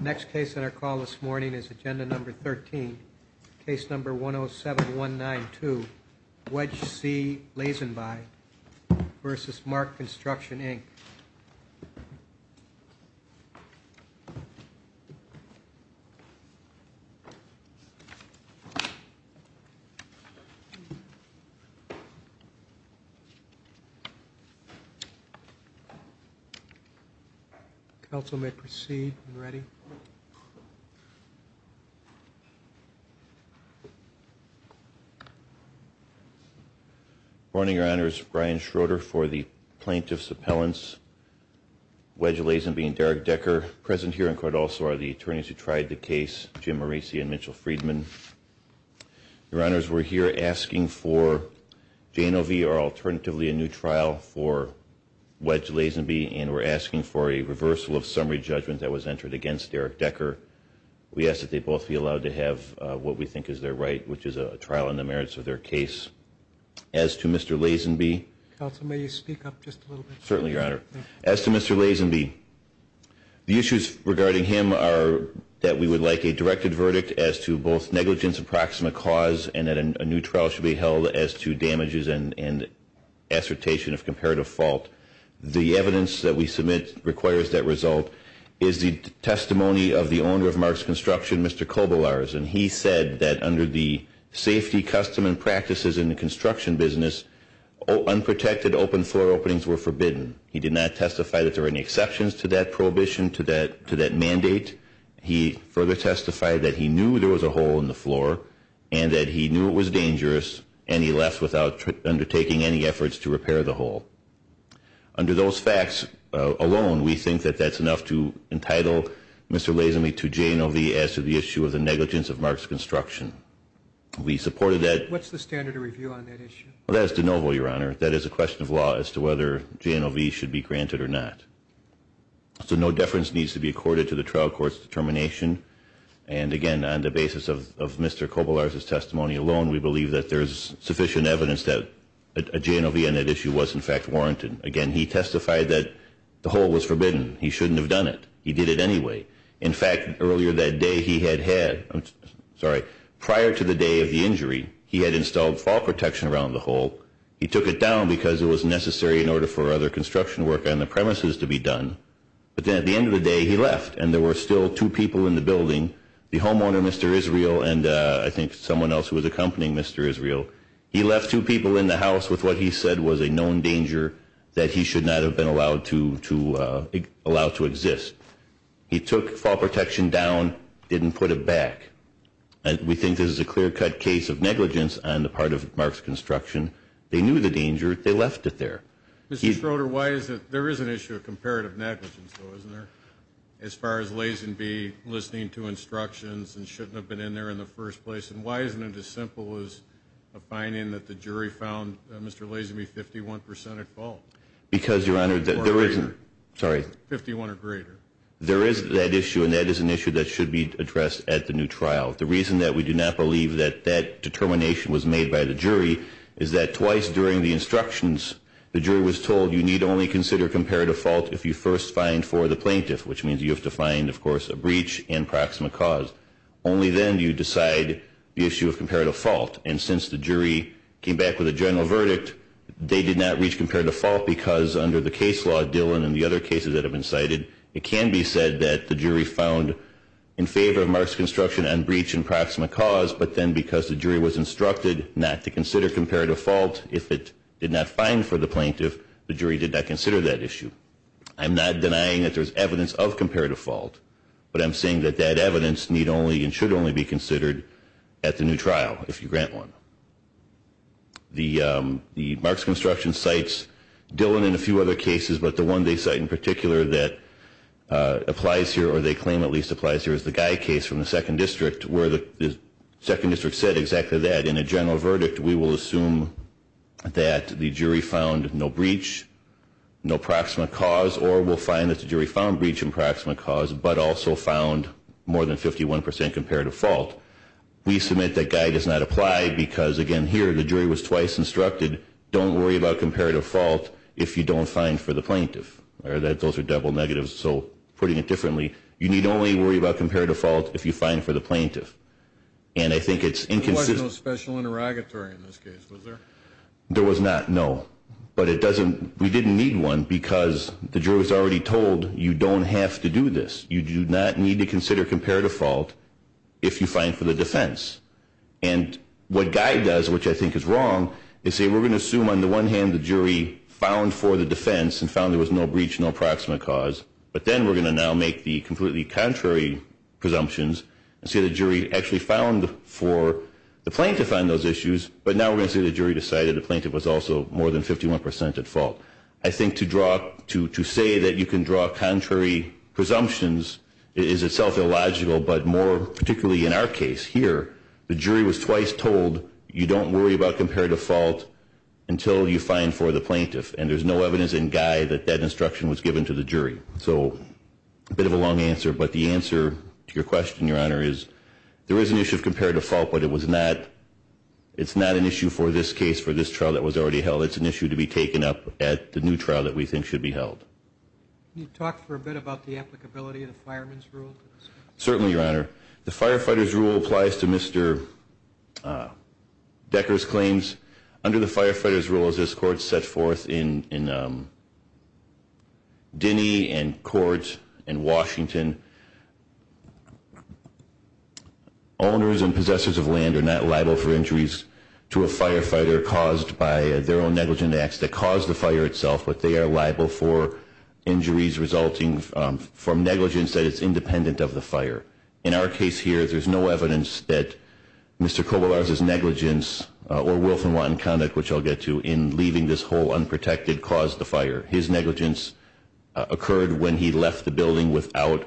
Next case on our call this morning is agenda number 13, case number 107192 Wedge C. Lazenby v. Mark Construction, Inc. Council may proceed when ready. Good morning, Your Honors. Brian Schroeder for the Plaintiff's Appellants, Wedge Lazenby and Derek Decker. Present here in court also are the attorneys who tried the case, Jim Moreci and Mitchell Friedman. Your Honors, we're here asking for J&O v. or alternatively a new trial for Wedge Lazenby and we're asking for a reversal of summary judgment that was what we think is their right, which is a trial on the merits of their case. As to Mr. Lazenby as to Mr. Lazenby, the issues regarding him are that we would like a directed verdict as to both negligence and proximate cause and that a new trial should be held as to damages and assertation of comparative fault. The evidence that we submit requires that is the testimony of the owner of Mark's Construction, Mr. Kobelarz, and he said that under the safety, custom and practices in the construction business, unprotected open floor openings were forbidden. He did not testify that there were any exceptions to that prohibition, to that mandate. He further testified that he knew there was a hole in the floor and that he knew it was dangerous and he left without undertaking any efforts to repair the hole. Under those facts alone, we think that that's enough to entitle Mr. Lazenby to J&OV as to the issue of the negligence of Mark's Construction. We supported that. What's the standard of review on that issue? Well, that is de novo, Your Honor. That is a question of law as to whether J&OV should be granted or not. So no deference needs to be accorded to the trial court's determination and again, on the basis of Mr. Kobelarz's testimony alone, we believe that there's sufficient evidence that a J&OV on that issue was in fact warranted. Again, he testified that the hole was forbidden. He shouldn't have done it. He did it anyway. In fact, earlier that day he had had, I'm sorry, prior to the day of the injury, he had installed fall protection around the hole. He took it down because it was necessary in order for other construction work on the premises to be done. But then at the end of the day, he left and there were still two people in the building, the homeowner, Mr. Israel, and I think someone else who was accompanying Mr. Israel. He left two people in the house with what he said was a known danger that he should not have been allowed to exist. He took fall protection down, didn't put it back. We think this is a clear-cut case of negligence on the part of Mark's construction. They knew the danger. They left it there. Mr. Schroeder, why is it there is an issue of comparative negligence though, isn't there? As far as Lazingby listening to instructions and shouldn't have been in there in the first place? And why isn't it as simple as a finding that the jury found Mr. Lazingby 51% at fault? Because Your Honor, there isn't. Sorry. 51 or greater. There is that issue and that is an issue that should be addressed at the new trial. The reason that we do not believe that that determination was made by the jury is that twice during the instructions, the jury was told you need only consider comparative fault if you first find for the plaintiff, which means you have to find of course a breach and proximate cause. Only then do you decide the issue of comparative fault. And since the jury came back with a general verdict, they did not reach comparative fault because under the case law, Dillon and the other cases that have been cited, it can be said that the jury found in favor of Mark's construction on breach and proximate cause, but then because the jury was instructed not to consider comparative fault if it did not find for the plaintiff, the jury did not consider that issue. I'm not denying that there is evidence of comparative fault, but I'm saying that that evidence need only and should only be considered at the new trial if you grant one. The Mark's construction cites Dillon and a few other cases, but the one they cite in particular that applies here, or they claim at least applies here, is the Guy case from the second district where the second district said exactly that. In a general verdict, we will assume that the jury found no breach, no proximate cause, or we'll find that the jury found more than 51% comparative fault. We submit that Guy does not apply because, again, here the jury was twice instructed, don't worry about comparative fault if you don't find for the plaintiff. Those are double negatives, so putting it differently, you need only worry about comparative fault if you find for the plaintiff. And I think it's inconsistent. There was no special interrogatory in this case, was there? There was not, no. But it doesn't, we didn't need one because the jury was already told you don't have to do this. You do not need to consider comparative fault if you find for the defense. And what Guy does, which I think is wrong, is say we're going to assume on the one hand the jury found for the defense and found there was no breach, no proximate cause, but then we're going to now make the completely contrary presumptions and say the jury actually found for the plaintiff on those issues, but now we're going to say the jury decided the plaintiff was also more than 51% at fault. I think to draw, to say that you can draw contrary presumptions is itself illogical, but more particularly in our case here, the jury was twice told you don't worry about comparative fault until you find for the plaintiff. And there's no evidence in Guy that that instruction was given to the jury. So a bit of a long answer, but the answer to your question, Your Honor, is there is an issue of comparative fault, but it was not, it's not an issue for this case, for this trial that was already held. It's an issue to be taken up at the new trial that we think should be held. Can you talk for a bit about the applicability of the fireman's rule? Certainly, Your Honor. The firefighter's rule applies to Mr. Decker's claims. Under the firefighter's rule, as this Court set forth in Dinney and Court in Washington, owners and possessors of land are not liable for injuries to a firefighter caused by their own negligent acts that caused the fire itself, but they are liable for injuries resulting from negligence that is independent of the fire. In our case here, there's no evidence that Mr. Koboularz's negligence or Wilf and Watton conduct, which I'll get to, in leaving this hole unprotected caused the fire. His negligence occurred when he left the building without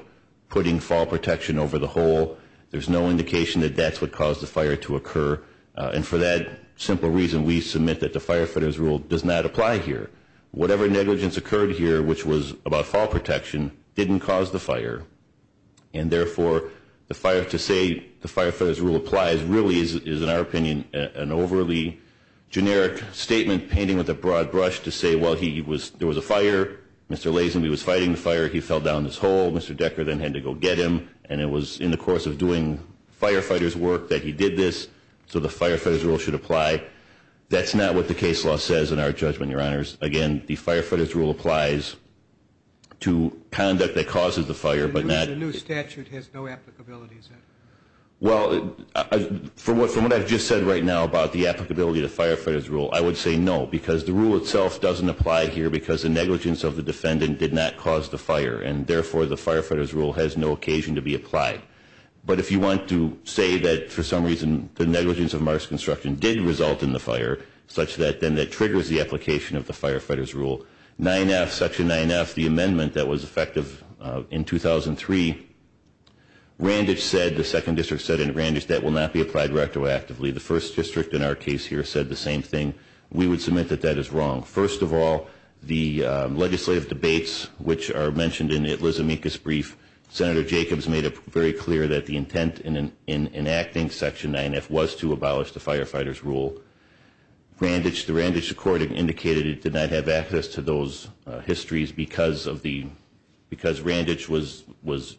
putting fall protection over the hole. There's no indication that that's what caused the fire to occur. And for that simple reason, we submit that the firefighter's rule does not apply here. Whatever negligence occurred here, which was about fall protection, didn't cause the fire. And therefore, to say the firefighter's rule applies really is, in our opinion, an overly generic statement painting with a broad brush to say, well, there was a fire, Mr. Lazenby was fighting the fire, he fell down this hole, Mr. Decker then had to go get him, and it was in the course of doing firefighter's work that he did this, so the firefighter's rule should apply. That's not what the case law says in our judgment, Your Honors. Again, the firefighter's rule applies to conduct that causes the fire, but not... The new statute has no applicability, sir. Well, from what I've just said right now about the applicability of the firefighter's rule, I would say no, because the rule itself doesn't apply here because the negligence of the defendant did not cause the fire, and therefore the firefighter's rule has no occasion to be applied. But if you want to say that, for some reason, the negligence of Mars Construction did result in the fire, such that then that triggers the application of the firefighter's rule. 9F, Section 9F, the amendment that was effective in 2003, Randage said, the Second District said in Randage, that will not be applied retroactively. The First District in our case here said the same thing. We would submit that that is wrong. First of all, the legislative debates, which are mentioned in the Eliza Minkus brief, Senator Jacobs made it very clear that the intent in enacting Section 9F was to abolish the firefighter's rule. Randage, the Randage Accord, indicated it did not have access to those histories because Randage was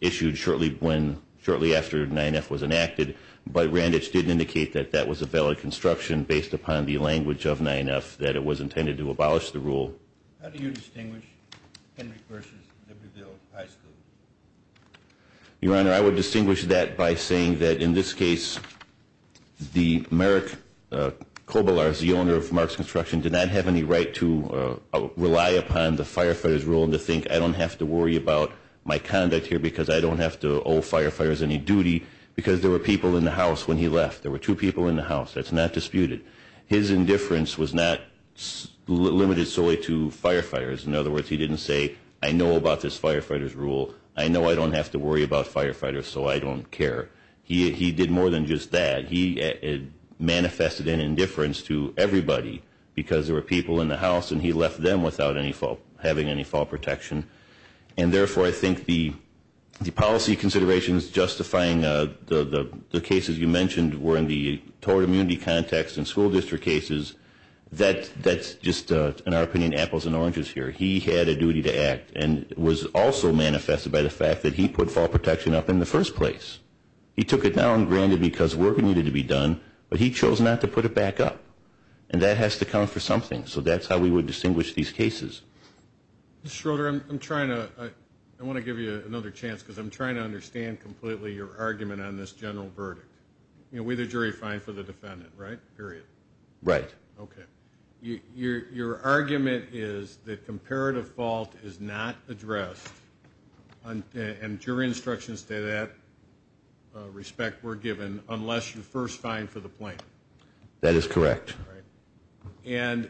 issued shortly after 9F was enacted, but Randage didn't indicate that that was a valid construction based upon the language of 9F, that it was intended to abolish the rule. How do you distinguish Hendrick versus Libertyville High School? Your Honor, I would distinguish that by saying that, in this case, the Merrick Kobelars, the owner of Mars Construction, did not have any right to rely upon the firefighter's rule to think, I don't have to worry about my conduct here because I don't have to owe firefighters any duty, because there were people in the house when he left. There were two people in the house. That's not disputed. His indifference was not limited solely to firefighters. In other words, he didn't say, I know about this firefighter's rule. I know I don't have to worry about firefighters, so I don't care. He did more than just that. He manifested an indifference to everybody because there were people in the house and he left them without any fault, having any fault protection. And therefore, I think the policy considerations justifying the cases you mentioned were in the toward immunity context and school district cases, that's just, in our opinion, apples and oranges here. He had a duty to act and was also manifested by the fact that he put fault protection up in the first place. He took it down granted because work needed to be done, but he chose not to put it back up. And that has to count for something. So that's how we would distinguish these cases. Mr. Schroeder, I'm trying to, I want to give you another chance because I'm trying to understand completely your argument on this general verdict. You know, we the jury find for the defendant, right? Period. Right. Okay. Your argument is that comparative fault is not addressed and jury instructions to that respect were given unless you first find for the plaintiff. That is correct. Right. And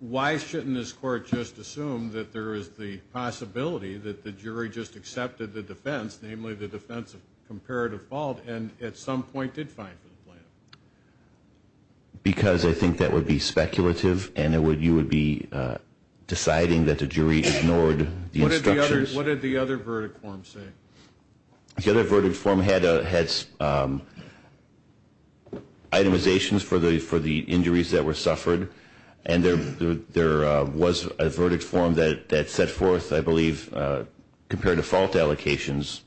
why shouldn't this court just assume that there is the possibility that the jury just accepted the defense, namely the defense of comparative fault, and at some point did find for the plaintiff? Because I think that would be speculative and it would, you would be deciding that the jury ignored the instructions. What did the other verdict form say? The other verdict form had itemizations for the injuries that were suffered. And there was a verdict form that set forth, I believe, comparative fault allocations.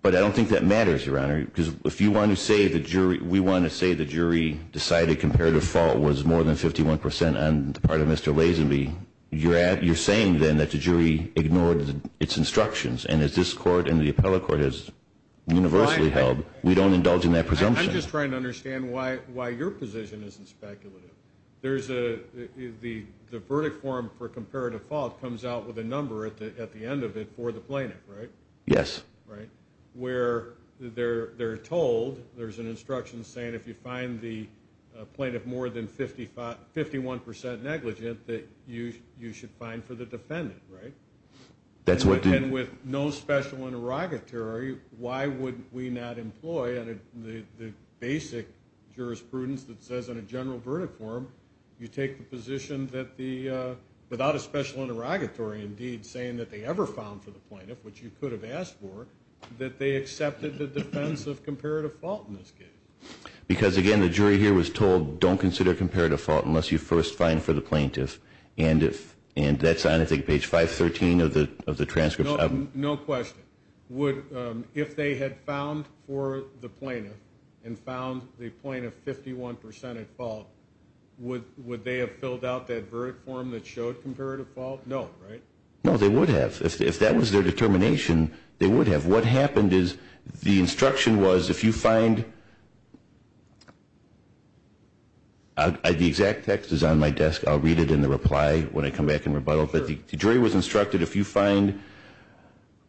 But I don't think that matters, Your Honor, because if you want to say the jury, we want to say the jury decided comparative fault was more than 51% on the part of Mr. Lazenby, you're saying then that the jury ignored its instructions. And as this court and the appellate court has universally held, we don't indulge in that presumption. I'm just trying to understand why your position isn't speculative. There's a, the verdict form for comparative fault comes out with a number at the end of it for the plaintiff, right? Yes. Right. Where they're told, there's an instruction saying if you find the plaintiff more than 51% negligent that you should find for the defendant, right? And with no special interrogatory, why would we not employ the basic jurisprudence that says on a general verdict form, you take the position that the, without a special interrogatory indeed saying that they ever found for the plaintiff, which you could have asked for, that they accepted the defense of comparative fault in this case? Because again, the jury here was told, don't consider comparative fault unless you first find for the plaintiff. And if, and that's on I think page 513 of the transcripts. No question. Would, if they had found for the plaintiff and found the plaintiff 51% at fault, would, would they have filled out that verdict form that showed comparative fault? No, right? No, they would have. If that was their determination, they would have. What happened is the instruction was if you find, the exact text is on my desk. I'll read it in the reply when I come back and rebuttal. But the jury was instructed if you find,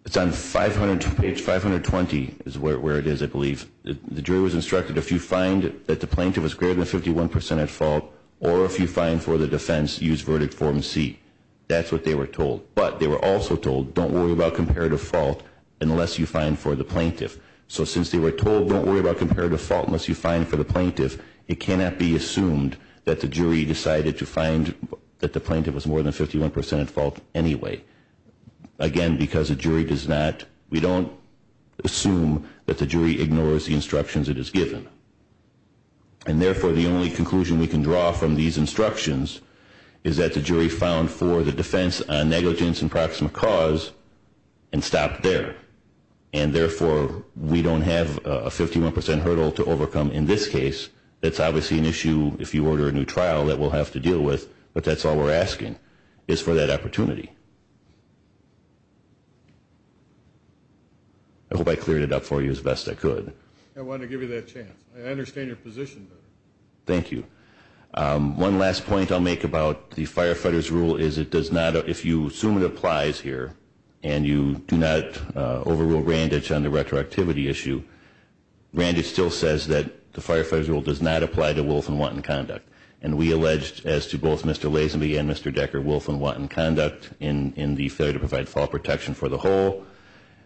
it's on page 520 is where it is, I believe. The jury was instructed if you find that the plaintiff was greater than 51% at fault, or if you find for the defense, use verdict form C. That's what they were told. But they were also told, don't worry about comparative fault unless you find for the plaintiff. So since they were told, don't worry about comparative fault unless you find for the plaintiff, it cannot be assumed that the jury decided to find that the plaintiff was more than 51% at fault anyway. Again, because the jury does not, we don't assume that the jury ignores the instructions it is given. And therefore, the only conclusion we can draw from these instructions is that the jury found for the defense a negligence in proximate cause and stopped there. And therefore, we don't have a 51% hurdle to overcome in this case. That's obviously an issue if you order a new trial that we'll have to deal with, but that's all we're asking is for that opportunity. I hope I cleared it up for you as best I could. I wanted to give you that chance. I understand your position. Thank you. One last point I'll make about the Firefighter's Rule is it does not, if you assume it applies here, and you do not overrule Randitch on the retroactivity issue, Randitch still says that the Firefighter's Rule does not apply to Wolf and Watten conduct. And we alleged, as to both Mr. Lazenby and Mr. Decker, Wolf and Watten conduct in the failure to provide fall protection for the whole.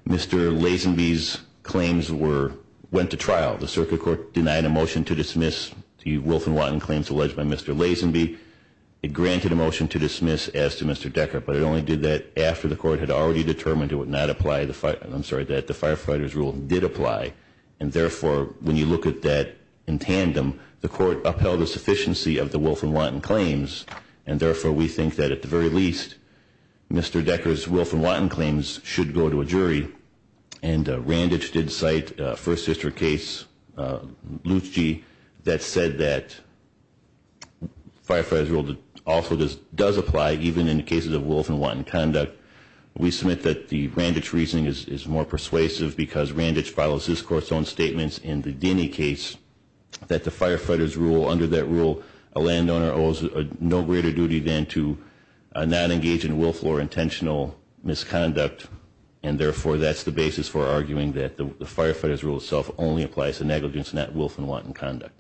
Mr. Lazenby's claims went to trial. The circuit court denied a motion to dismiss the Wolf and Watten claims alleged by Mr. Lazenby. It granted a motion to dismiss as to Mr. Decker, but it only did that after the court had already determined it would not apply, I'm sorry, that the Firefighter's Rule did apply. And therefore, when you look at that in tandem, the court upheld the sufficiency of the Wolf and Watten claims. And therefore, we think that at the very least, Mr. Decker's Wolf and Watten claims should go to a jury. And Randitch did cite a First Sister case, Luce G., that said that Firefighter's Rule also does apply even in cases of Wolf and Watten conduct. We submit that the Randitch reasoning is more persuasive because Randitch follows his court's own statements in the Denny case that the Firefighter's Rule, under that rule, a landowner owes no greater duty than to not engage in Wolf or intentional misconduct. And therefore, that's the basis for arguing that the Firefighter's Rule itself only applies to negligence, not Wolf and Watten conduct.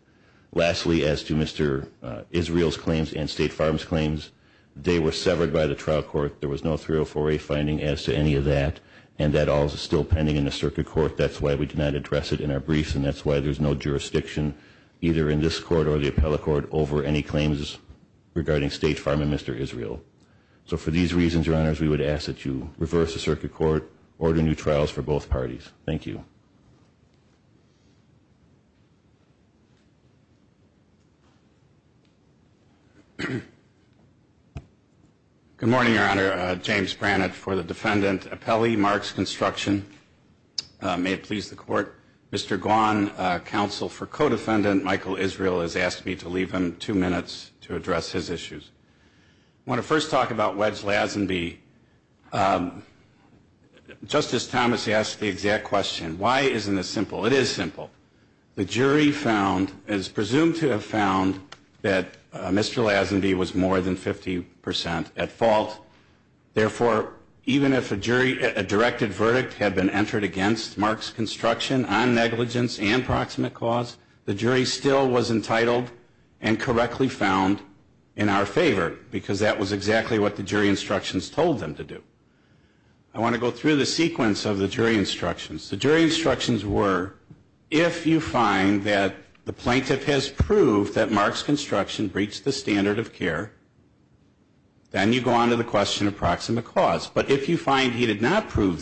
Lastly, as to Mr. Israel's claims and State Farm's claims, they were severed by the trial court. There was no 304A finding as to any of that. And that all is still pending in the circuit court. That's why we did not address it in our briefs. And that's why there's no jurisdiction, either in this court or the appellate court, over any claims regarding State Farm and Mr. Israel. So for these reasons, Your Honors, we would ask that you reverse the circuit court, order new trials for both parties. Thank you. Good morning, Your Honor. James Brannett for the Defendant Appellee, Marks Construction. May it please the Court, Mr. Guan, Counsel for Codefendant Michael Israel has asked me to leave him two minutes to address his issues. I want to first talk about Wedge Lazenby. Justice Thomas asked the exact question. Why isn't this simple? It is simple. The jury found, as presumed to have found, that Mr. Lazenby was more than 50% at fault. Therefore, even if a jury, a directed verdict had been entered against Marks Construction on negligence and proximate cause, the jury still was entitled and correctly found in our favor, because that was exactly what the jury instructions told us to do. The jury found that Mr. Lazenby and correctly found in our favor, because that was exactly what the jury instructions told us to do. I want to go through the sequence of the jury instructions. The jury instructions were, if you find that the plaintiff has proved that Marks Construction breached the standard of care, then you go on to the question of proximate cause. But if you find he did not prove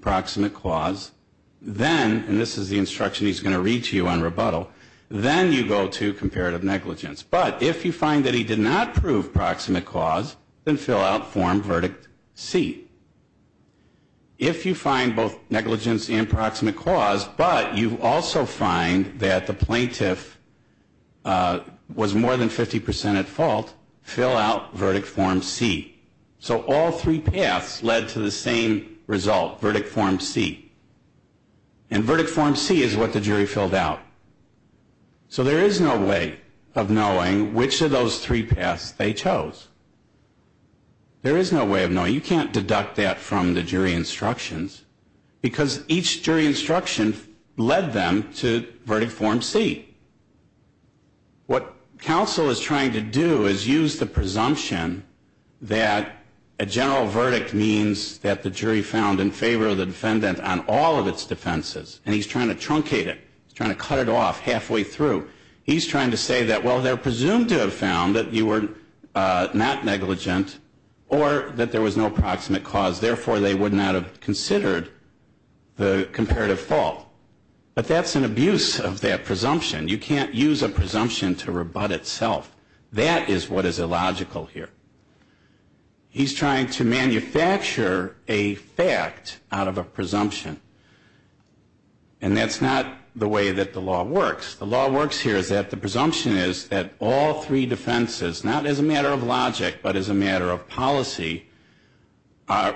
proximate cause, then, and this is the instruction he's going to read to you on rebuttal, then you go to comparative negligence. But if you find that he did not prove proximate cause, then fill out Form Verdict C. If you find both negligence and proximate cause, but you also find that the plaintiff was more than 50% at fault, fill out Verdict Form C. So all three paths led to the same result, Verdict Form C. And Verdict Form C is what the jury filled out. So there is no way of knowing which of those three paths they chose. There is no way of knowing. You can't deduct that from the jury instructions, because each jury instruction led them to Verdict Form C. What counsel is trying to do is use the fact that a general verdict means that the jury found in favor of the defendant on all of its defenses. And he's trying to truncate it. He's trying to cut it off halfway through. He's trying to say that, well, they're presumed to have found that you were not negligent or that there was no proximate cause. Therefore, they would not have considered the comparative fault. But that's an abuse of that presumption. You can't use a presumption to rebut itself. That is what is illogical here. He's trying to manufacture a fact out of a presumption. And that's not the way that the law works. The law works here is that the presumption is that all three defenses, not as a matter of logic, but as a matter of policy,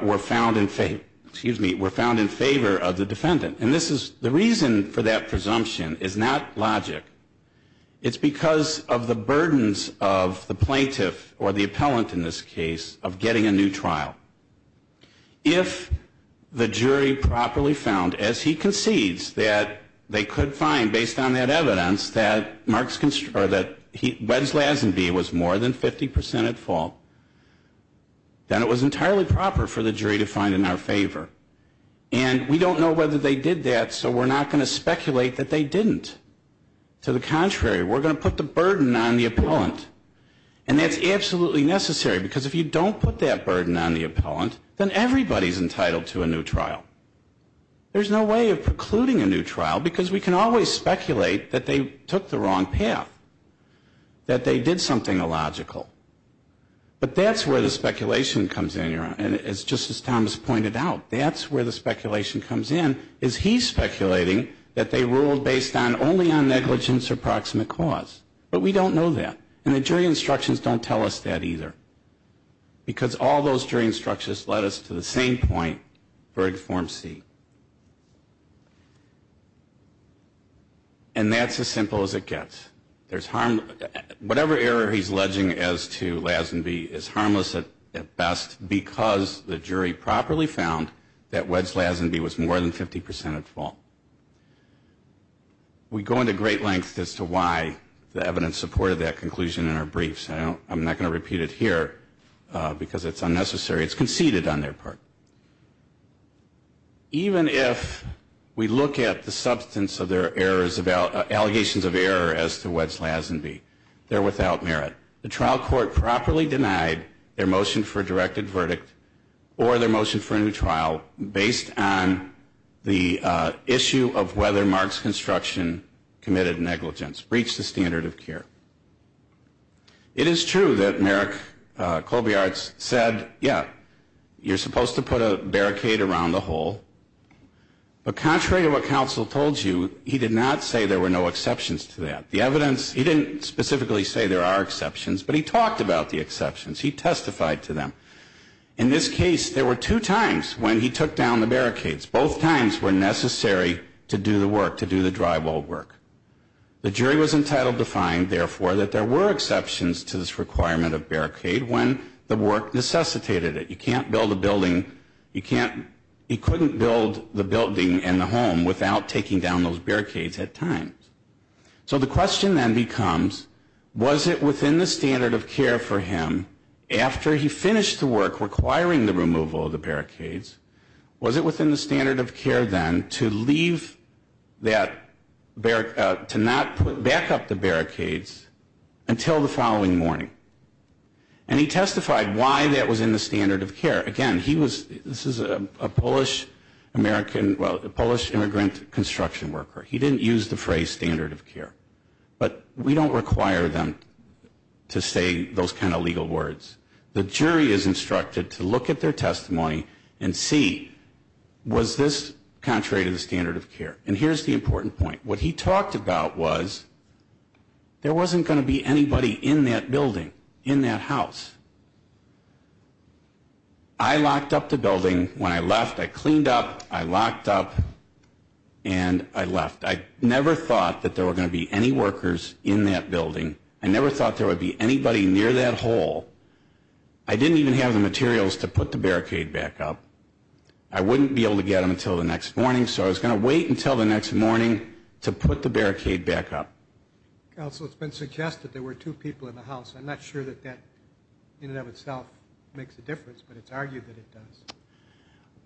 were found in favor of the defendant. And the reason for that presumption is not logic. It's because of the burdens of the plaintiff, or the appellant in this case, of getting a new trial. If the jury properly found, as he concedes, that they could find, based on that evidence, that Mark's, or that Weds Lazenby was more than 50 percent at fault, then it was entirely proper for the jury to find in our favor. And we don't know whether they did that, so we're not going to speculate that they didn't. To the contrary, we're going to put the burden on the appellant. And that's absolutely necessary, because if you don't put that burden on the appellant, then everybody's entitled to a new trial. There's no way of precluding a new trial, because we can always speculate that they took the wrong path, that they did something illogical. But that's where the speculation comes in, just as Thomas pointed out. That's where the speculation comes in. There's no way of precluding that they ruled based on, only on negligence or proximate cause. But we don't know that, and the jury instructions don't tell us that either, because all those jury instructions led us to the same point, verdict Form C. And that's as simple as it gets. There's harm, whatever error he's alleging as to Lazenby, is harmless at best because the jury properly found that Wedge Lazenby was more than 50% at fault. We go into great length as to why the evidence supported that conclusion in our briefs. I don't, I'm not going to repeat it here because it's unnecessary. It's conceded on their part. Even if we look at the substance of their errors about, allegations of error as to Wedge Lazenby, they're without merit. The trial court properly denied their motion for a directed verdict or their motion for a new trial based on the issue of whether Mark's construction committed negligence, breached the standard of care. It is true that Merrick Colbiart said, yeah, you're supposed to put a barricade around the hole. But contrary to what counsel told you, he did not say there were no exceptions, but he talked about the exceptions. He testified to them. In this case, there were two times when he took down the barricades. Both times were necessary to do the work, to do the drywall work. The jury was entitled to find, therefore, that there were exceptions to this requirement of barricade when the work necessitated it. You can't build a building, you can't, he couldn't build the building and the So the question then becomes, was it within the standard of care for him after he finished the work requiring the removal of the barricades, was it within the standard of care then to leave that, to not put, back up the barricades until the following morning? And he testified why that was in the standard of care. Again, he was, this is a Polish American, well, a Polish immigrant construction worker. He didn't use the phrase standard of care. But we don't require them to say those kind of legal words. The jury is instructed to look at their testimony and see, was this contrary to the standard of care? And here's the important point. What he talked about was, there wasn't going to be anybody in that building, in that house. I locked up the door, I locked up the building. When I left, I cleaned up, I locked up, and I left. I never thought that there were going to be any workers in that building. I never thought there would be anybody near that hole. I didn't even have the materials to put the barricade back up. I wouldn't be able to get them until the next morning, so I was going to wait until the next morning to put the barricade back up. Counsel, it's been suggested there were two people in the house. I'm not sure that that in and of itself makes a difference, but it's argued that it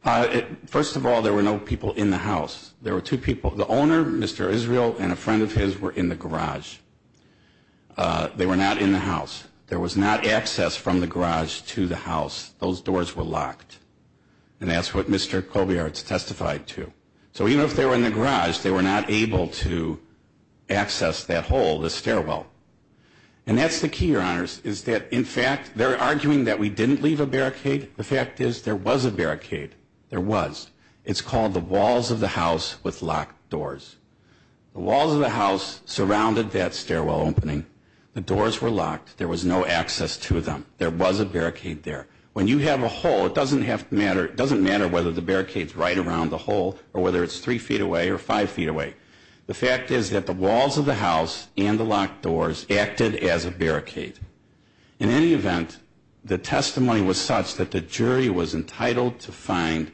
does. First of all, there were no people in the house. There were two people. The owner, Mr. Israel, and a friend of his were in the garage. They were not in the house. There was not access from the garage to the house. Those doors were locked. And that's what Mr. Kobiarts testified to. So even if they were in the garage, they were not able to access that hole, the stairwell. And that's the key, Your Honors, is that in fact, they're arguing that we didn't leave a barricade. The fact is, there was a barricade. There was. It's called the walls of the house with locked doors. The walls of the house surrounded that stairwell opening. The doors were locked. There was no access to them. There was a barricade there. When you have a hole, it doesn't matter whether the barricade's right around the hole or whether it's three feet away or five feet away. The fact is that the walls of the house and the locked doors acted as a barricade. In any event, the testimony was such that the jury was entitled to find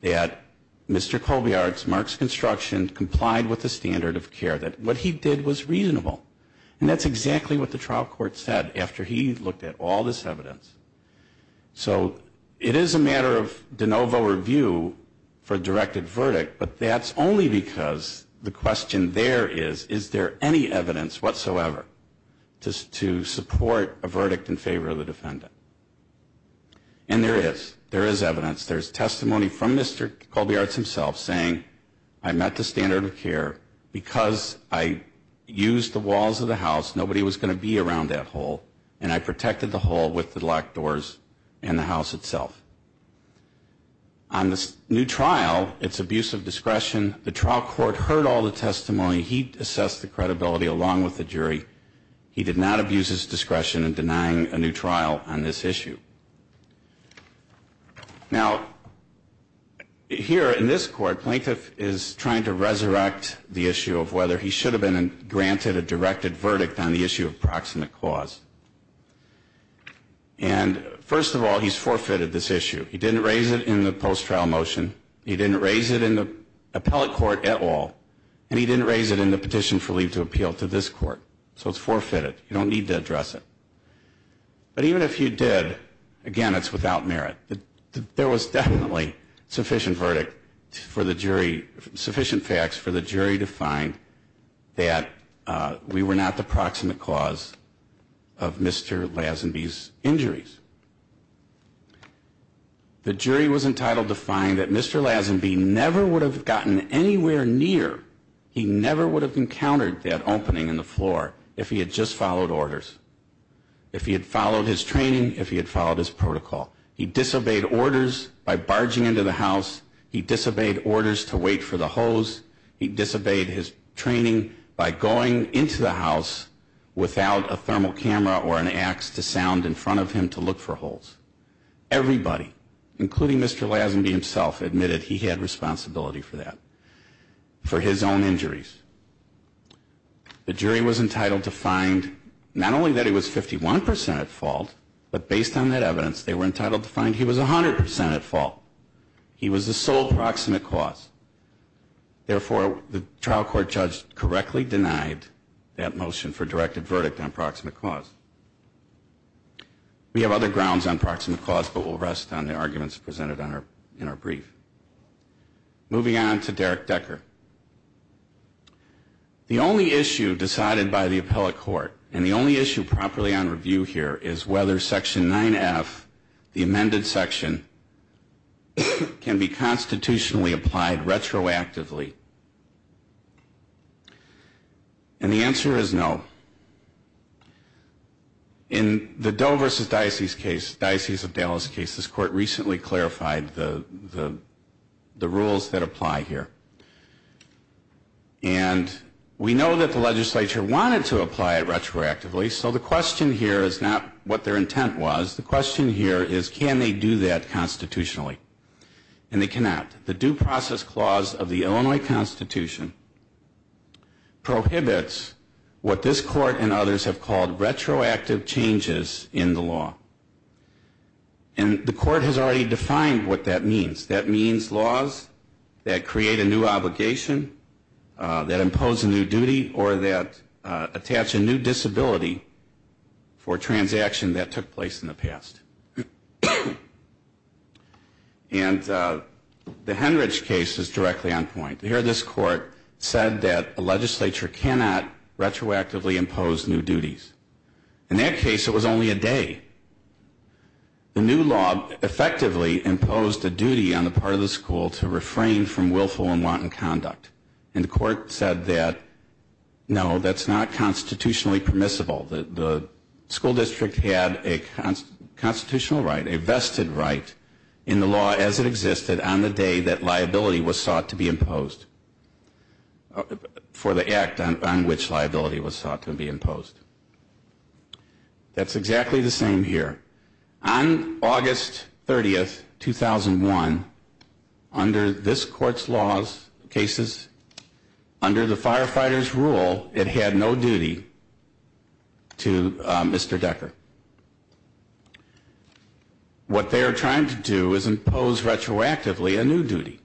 that Mr. Kobiarts, Mark's construction, complied with the standard of care, that what he did was reasonable. And that's exactly what the trial court said after he looked at all this evidence. So it is a matter of de novo review for directed verdict, but that's only because the question there is, is there any evidence whatsoever to support a verdict in favor of the defendant? And there is. There is evidence. There's testimony from Mr. Kobiarts himself saying, I met the standard of care. Because I used the walls of the house, nobody was going to be around that hole. And I protected the hole with the locked doors and the house itself. On this new trial, it's abuse of discretion. The trial court heard all the testimony. He assessed the credibility along with the jury. He did not abuse his discretion in denying a new trial on this issue. Now, here in this court, plaintiff is trying to resurrect the issue of whether he should have been granted a directed verdict on the issue of proximate cause. And first of all, he's forfeited this issue. He didn't raise it in the post-trial motion. He didn't raise it in the appellate court at all. And he didn't raise it in the petition for leave to appeal to this court. So it's forfeited. You don't need to address it. But even if you did, again, it's without merit. There was definitely sufficient verdict for the jury, sufficient facts for the jury to find that we were not the proximate cause of Mr. Lazenby's injuries. The jury was entitled to find that Mr. Lazenby never would have gotten anywhere near, he never would have encountered that opening in the floor if he had just followed orders, if he had followed his training, if he had followed his protocol. He disobeyed orders by barging into the house. He disobeyed orders to wait for the hose. He disobeyed his training by going into the house without a thermal camera or an ax to sound in front of him to look for holes. Everybody, including Mr. Lazenby himself, admitted he had responsibility for that, for his own injuries. The jury was entitled to find, not only that he was 51 percent at fault, but based on that evidence, they were entitled to find he was 100 percent at fault. He was the sole proximate cause. Therefore, the trial court judge correctly denied that motion for directed verdict on proximate cause. We have other grounds on proximate cause, but we'll rest on the arguments presented in our brief. Moving on to Derek Decker. The only issue decided by the appellate court, and the only issue properly on review here, is whether Section 9F, the amended section, can be constituted as a constitutionally applied retroactively. And the answer is no. In the Doe v. Dicey's case, Dicey's of Dallas case, this court recently clarified the rules that apply here. And we know that the legislature wanted to apply it retroactively, so the question here is not what their rules are, but what their rules are. The Doe Process Clause of the Illinois Constitution prohibits what this court and others have called retroactive changes in the law. And the court has already defined what that means. That means laws that create a new obligation, that impose a new duty, or that attach a new disability for a transaction that took place in the past. And the House of Representatives has already put the Enrich case directly on point. Here this court said that the legislature cannot retroactively impose new duties. In that case, it was only a day. The new law effectively imposed a duty on the part of the school to refrain from willful and wanton conduct. And the court said that, no, that's not constitutionally permissible. The school district had a constitutional right, a vested right, in the law as it existed on the day that law was enacted, and the liability was sought to be imposed, for the act on which liability was sought to be imposed. That's exactly the same here. On August 30, 2001, under this court's laws, cases, under the firefighters' rule, it had no duty to Mr. Decker. What they are trying to do is impose retroactively a new duty.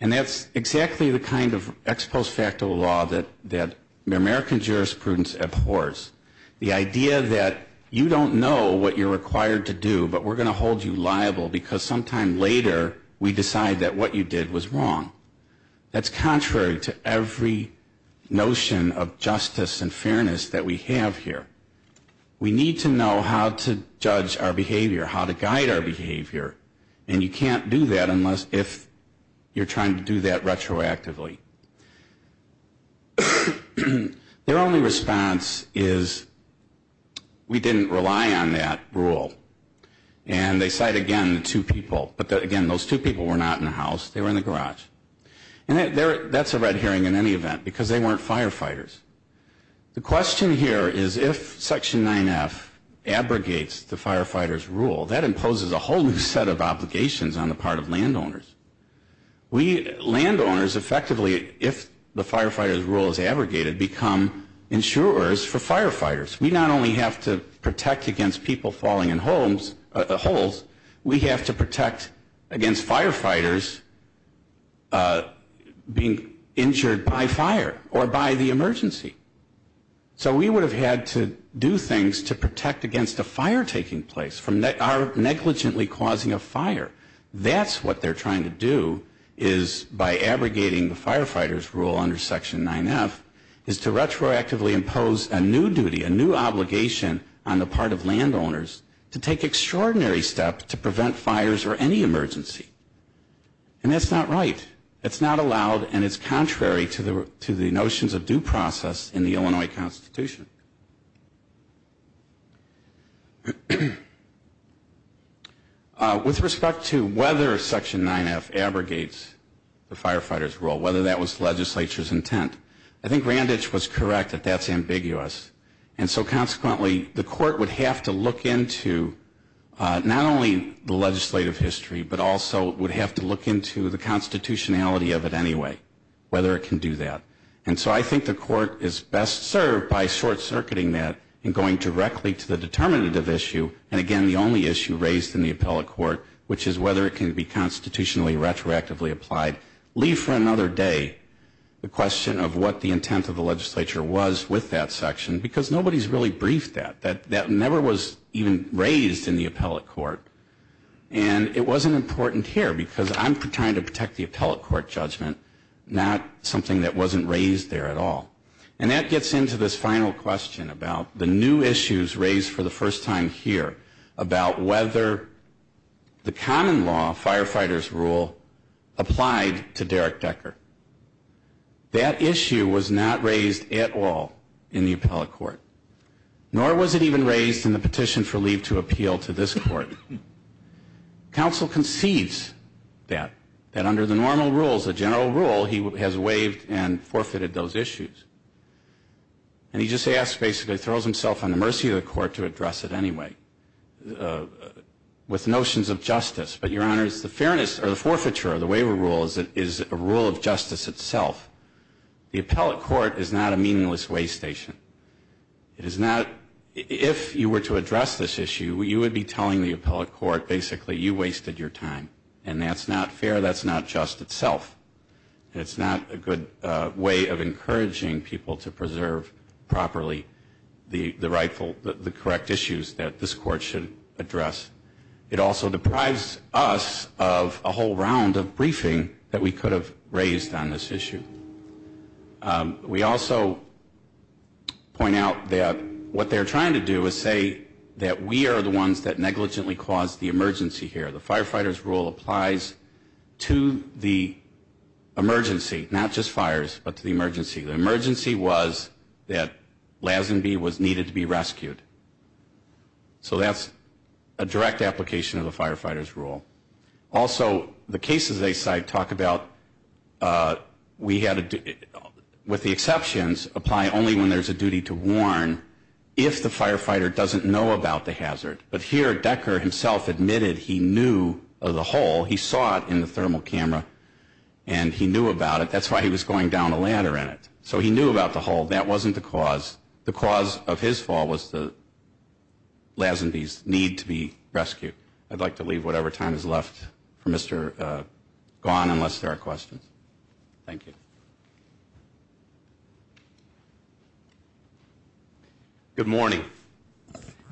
And that's exactly the kind of ex post facto law that American jurisprudence abhors. The idea that you don't know what you're required to do, but we're going to hold you liable because sometime later we decide that what you did was wrong. That's contrary to every notion of justice and fairness that we have here. We need to know how to judge our behavior, how to guide our behavior. And you can't do that unless, if you're trying to do that retroactively. Their only response is, we didn't rely on that rule. And they cite again the two people, but again, those two people were not in the house, they were in the garage. And that's a red herring in any event, because they weren't firefighters. The question here is, if Section 9F abrogates the firefighters' rule, that imposes a whole new set of obligations on the part of landowners. We landowners effectively, if the firefighters' rule is abrogated, become insurers for firefighters. We not only have to protect against people falling in holes, we have to protect against firefighters being injured by fire or by the emergency. So we would have had to do things to protect against a fire taking place from our negligently causing a fire. Then we would have to protect against that. And that's what they're trying to do, is by abrogating the firefighters' rule under Section 9F, is to retroactively impose a new duty, a new obligation on the part of landowners to take extraordinary steps to prevent fires or any emergency. And that's not right. It's not allowed, and it's contrary to the notions of due process in the Illinois Constitution. With respect to whether Section 9F abrogates the firefighters' rule, whether that was the legislature's intent, I think Randich was correct that that's ambiguous. And so consequently, the court would have to look into not only the legislative history, but also would have to look into the constitutionality of it anyway, whether it can do that. And so I think the court is best served by short-circuiting that and going directly to the determinative issue, and again, the only issue raised in the appellate court, which is whether it can be constitutionally retroactively applied. Leave for another day the question of what the intent of the legislature was with that section, because nobody's really briefed that. That never was even raised in the appellate court. And it wasn't important here, because I'm trying to protect the appellate court judgment, not something that wasn't raised there at all. And that gets into this final question about the new issues raised for the first time here, about whether the common law, firefighters' rule, applied to Derek Decker. That issue was not raised at all in the appellate court. Nor was it even raised in the petition for leave to appeal to this court. Council concedes that, that under the normal rules, the general rule, he has waived and forfeited those issues. And he just asks, basically throws himself on the mercy of the court to address it anyway, with notions of justice. But, Your Honor, it's the fairness, or the forfeiture of the waiver rule, is a rule of justice itself. The appellate court is not a meaningless way station. It is not, if you were to address this issue, you would be telling the appellate court, basically, you wasted your time. And that's not fair. That's not just itself. And it's not a good way of encouraging people to preserve proper the rightful, the correct issues that this court should address. It also deprives us of a whole round of briefing that we could have raised on this issue. We also point out that what they're trying to do is say that we are the ones that negligently caused the emergency here. The firefighters' rule applies to the emergency, not just fires, but to the emergency. The emergency was that Lazenby was needed to be rescued. So that's a direct application of the firefighters' rule. Also, the cases they cite talk about we had to, with the exceptions, apply only when there's a duty to warn if the firefighter doesn't know about the hazard. But here, Decker himself admitted he knew of the hole. He saw it in the thermal camera, and he knew about it. That's why he was going down a ladder in it. So he knew about the hole. That wasn't the cause. The cause of his fall was the Lazenby's need to be rescued. I'd like to leave whatever time is left for Mr. Gaughan, unless there are questions. Thank you. Good morning.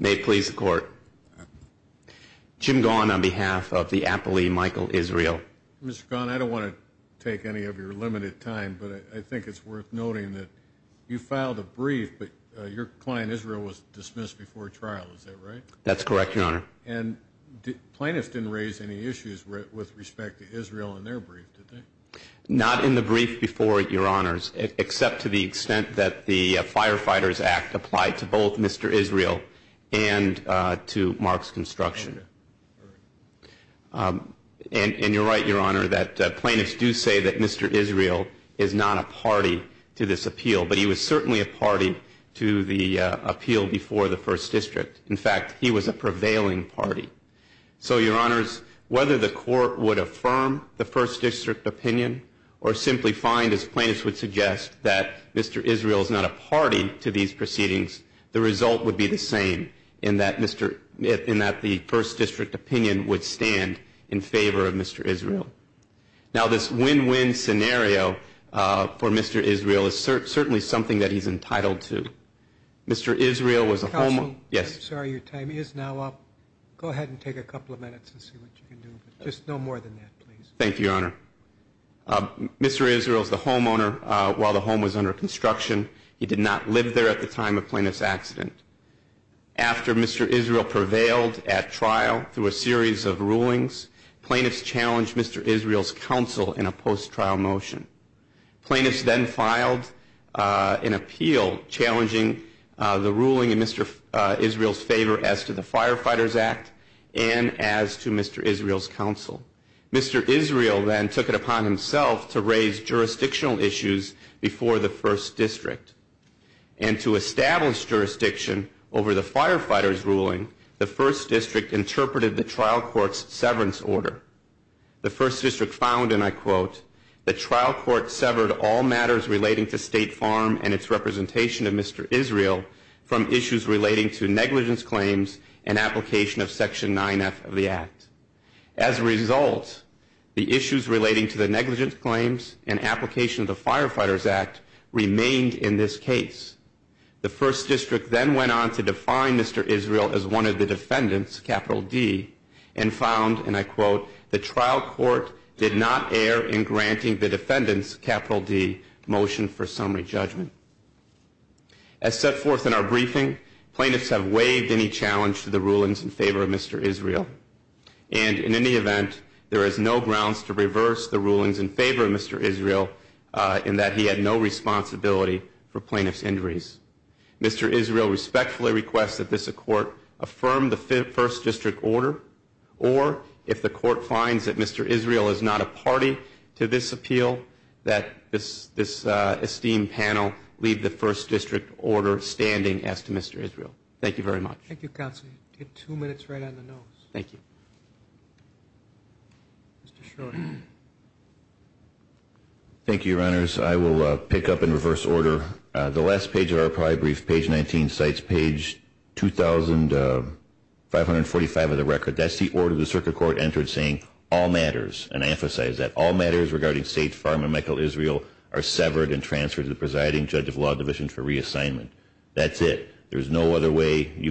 May it please the court. Jim Gaughan on behalf of the appellee, Michael Israel. Mr. Gaughan, I don't want to take any of your limited time, but I think it's worth noting that you filed a brief, but your client, Israel, was dismissed before trial. Is that right? That's correct, Your Honor. And plaintiffs didn't raise any issues with respect to Israel in their brief, did they? Not in the brief before, Your Honors, except to the extent that the Firefighters Act applied to both Mr. Israel and to Mark's construction. And you're right, Mr. Gaughan, that the firefighters' rule applies to both Mr. Israel and Mark's construction. And you're right, Your Honor, that plaintiffs do say that Mr. Israel is not a party to this appeal, but he was certainly a party to the appeal before the First District. In fact, he was a prevailing party. So, Your Honors, whether the court would affirm the First District opinion or simply find, as plaintiffs would suggest, that Mr. Israel is not a party to these proceedings, the result would be the same, in that the First District opinion would stand in favor of Mr. Israel. Now, this win-win scenario for Mr. Israel is certainly something that he's entitled to. Mr. Israel was a homeowner... Counsel, I'm sorry, your time is now up. Go ahead and take a couple of minutes and see what you can do. Just no more than that, please. Thank you, Your Honor. Mr. Israel was the homeowner while the home was under construction. He did not live there at the time of plaintiff's accident. After Mr. Israel prevailed at trial through a series of rulings, plaintiffs challenged Mr. Israel to establish Mr. Israel's counsel in a post-trial motion. Plaintiffs then filed an appeal challenging the ruling in Mr. Israel's favor as to the Firefighters Act and as to Mr. Israel's counsel. Mr. Israel then took it upon himself to raise jurisdictional issues before the First District. And to establish jurisdiction over the firefighters' ruling, the First District interpreted the ruling as a case of negligence. The First District found, and I quote, the trial court severed all matters relating to State Farm and its representation of Mr. Israel from issues relating to negligence claims and application of Section 9F of the Act. As a result, the issues relating to the negligence claims and application of the Firefighters Act remained in this case. The First District then went on to define Mr. Israel as one of the defendants, capital D, and found, and I quote, the trial court did not err in granting the defendants, capital D, motion for summary judgment. As set forth in our briefing, plaintiffs have waived any challenge to the rulings in favor of Mr. Israel. And in any event, there is no grounds to reverse the rulings in favor of Mr. Israel in that he had no responsibility for plaintiff's injuries. Mr. Israel respectfully requests that this court affirm the First District order, or if the court finds that Mr. Israel is not a party to this appeal, that this esteemed panel leave the First District order standing as to Mr. Israel. Thank you very much. Thank you, Counsel. You have two minutes right on the nose. Thank you, Your Honors. I will pick up in reverse order. The last page of our prior brief, page 19, cites page 2,545 of the record. That's the order the circuit court entered saying, all matters, and I emphasize that, all matters regarding State Farm and Michael Israel are severed and cannot be referred to the circuit court. I would like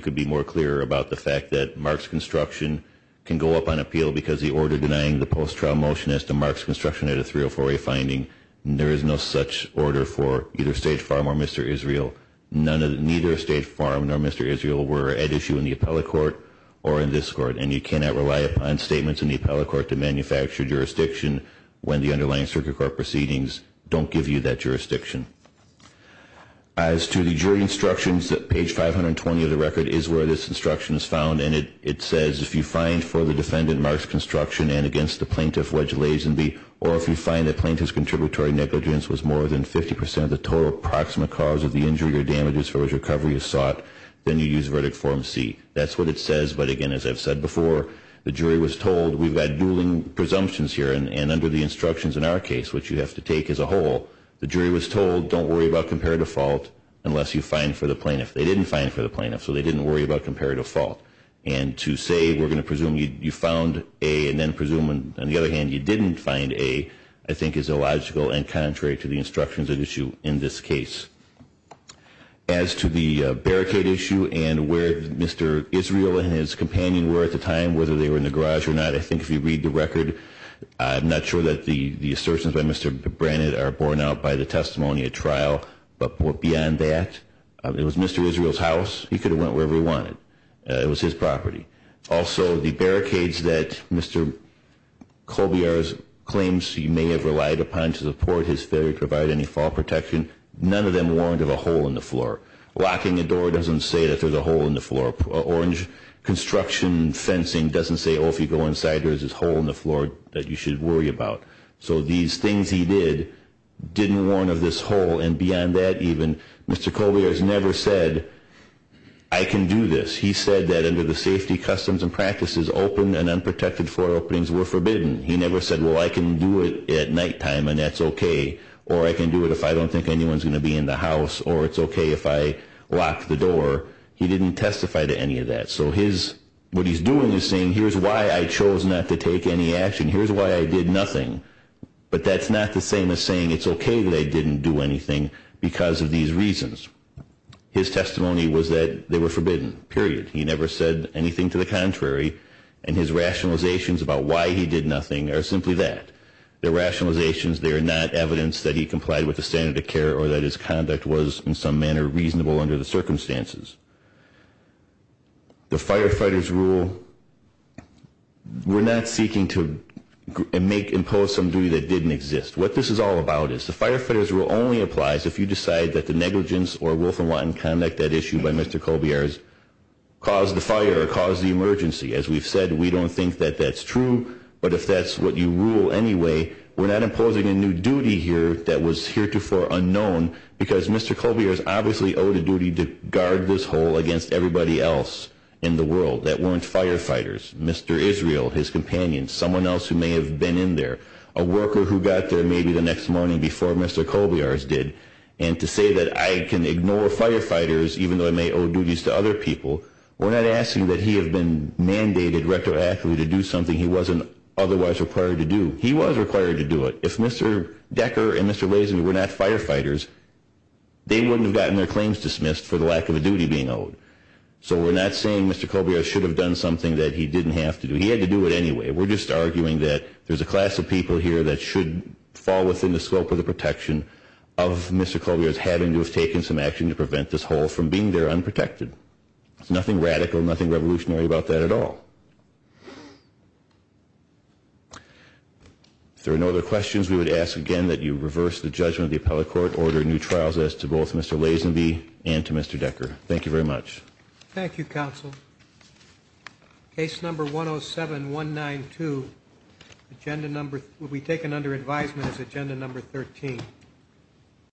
to be more clear about the fact that Mark's construction can go up on appeal because the order denying the post-trial motion as to Mark's construction at a 304A finding, there is no such order for either State Farm or Mr. Israel. Neither State Farm nor Mr. Israel were at issue in the appellate court or in this court, and you cannot rely upon statements in the appellate court to manufacture jurisdiction when the underlying circuit court proceedings don't give you that jurisdiction. That's where this instruction is found, and it says, if you find for the defendant Mark's construction and against the plaintiff, wedge Lazenby, or if you find the plaintiff's contributory negligence was more than 50% of the total approximate cause of the injury or damages for which recovery is sought, then you use verdict form C. That's what it says, but again, as I've said before, the jury was told, we've got dueling presumptions here, and under the instructions in our case, which you have to take as a whole, the jury was told, don't worry about comparative fault unless you find for the plaintiff. They didn't find for the plaintiff, so they didn't worry about comparative fault, and to say, we're going to presume you found A and then presume, on the other hand, you didn't find A, I think is illogical and contrary to the instructions at issue in this case. As to the barricade issue and where Mr. Israel and his companion were at the time, whether they were in the garage or not, I think if you read the record, I'm not sure that the assertions by Mr. Brannan are borne out by the testimony at trial, but what I can tell you is that the barricades were beyond that. It was Mr. Israel's house. He could have went wherever he wanted. It was his property. Also, the barricades that Mr. Colbiar's claims he may have relied upon to support his failure to provide any fall protection, none of them warned of a hole in the floor. Locking a door doesn't say that there's a hole in the floor. Orange construction fencing doesn't say, oh, if you go inside, there's this hole in the floor that you should worry about. So these things he did didn't warn of this hole, and beyond that, even the barricades were not forbidden. Mr. Colbiar has never said, I can do this. He said that under the safety customs and practices, open and unprotected floor openings were forbidden. He never said, well, I can do it at nighttime and that's okay, or I can do it if I don't think anyone's going to be in the house, or it's okay if I lock the door. He didn't testify to any of that. So what he's doing is saying, here's why I chose not to take any action. Here's why I did not take any action. He never said anything to the contrary, and his rationalizations about why he did nothing are simply that. Their rationalizations, they are not evidence that he complied with the standard of care or that his conduct was in some manner reasonable under the circumstances. The firefighters rule, we're not seeking to make, impose some duty that didn't exist. What this is all about is, the fire department, whether it's negligence or wolf and wanton conduct, that issue by Mr. Colbiar's caused the fire or caused the emergency. As we've said, we don't think that that's true, but if that's what you rule anyway, we're not imposing a new duty here that was heretofore unknown, because Mr. Colbiar's obviously owed a duty to guard this hole against everybody else in the world that weren't firefighters. Mr. Israel, his companion, someone else who may have been in there, a worker who got there maybe the next morning before Mr. Colbiar's did, and to say that I can ignore firefighters, even though I may owe duties to other people, we're not asking that he have been mandated retroactively to do something he wasn't otherwise required to do. He was required to do it. If Mr. Decker and Mr. Lazenby were not firefighters, they wouldn't have gotten their claims dismissed for the lack of a duty being owed. So we're not saying Mr. Colbiar's should have done something that he didn't have to do. He had to do it anyway. We're just arguing that there's a class of people here that should fall within the scope of the law, and that's why we're having to have taken some action to prevent this hole from being there unprotected. There's nothing radical, nothing revolutionary about that at all. If there are no other questions, we would ask again that you reverse the judgment of the appellate court, order new trials as to both Mr. Lazenby and to Mr. Decker. Thank you very much. Thank you, counsel. Case number 107192, agenda number, will be taken under advisement as agenda number 13.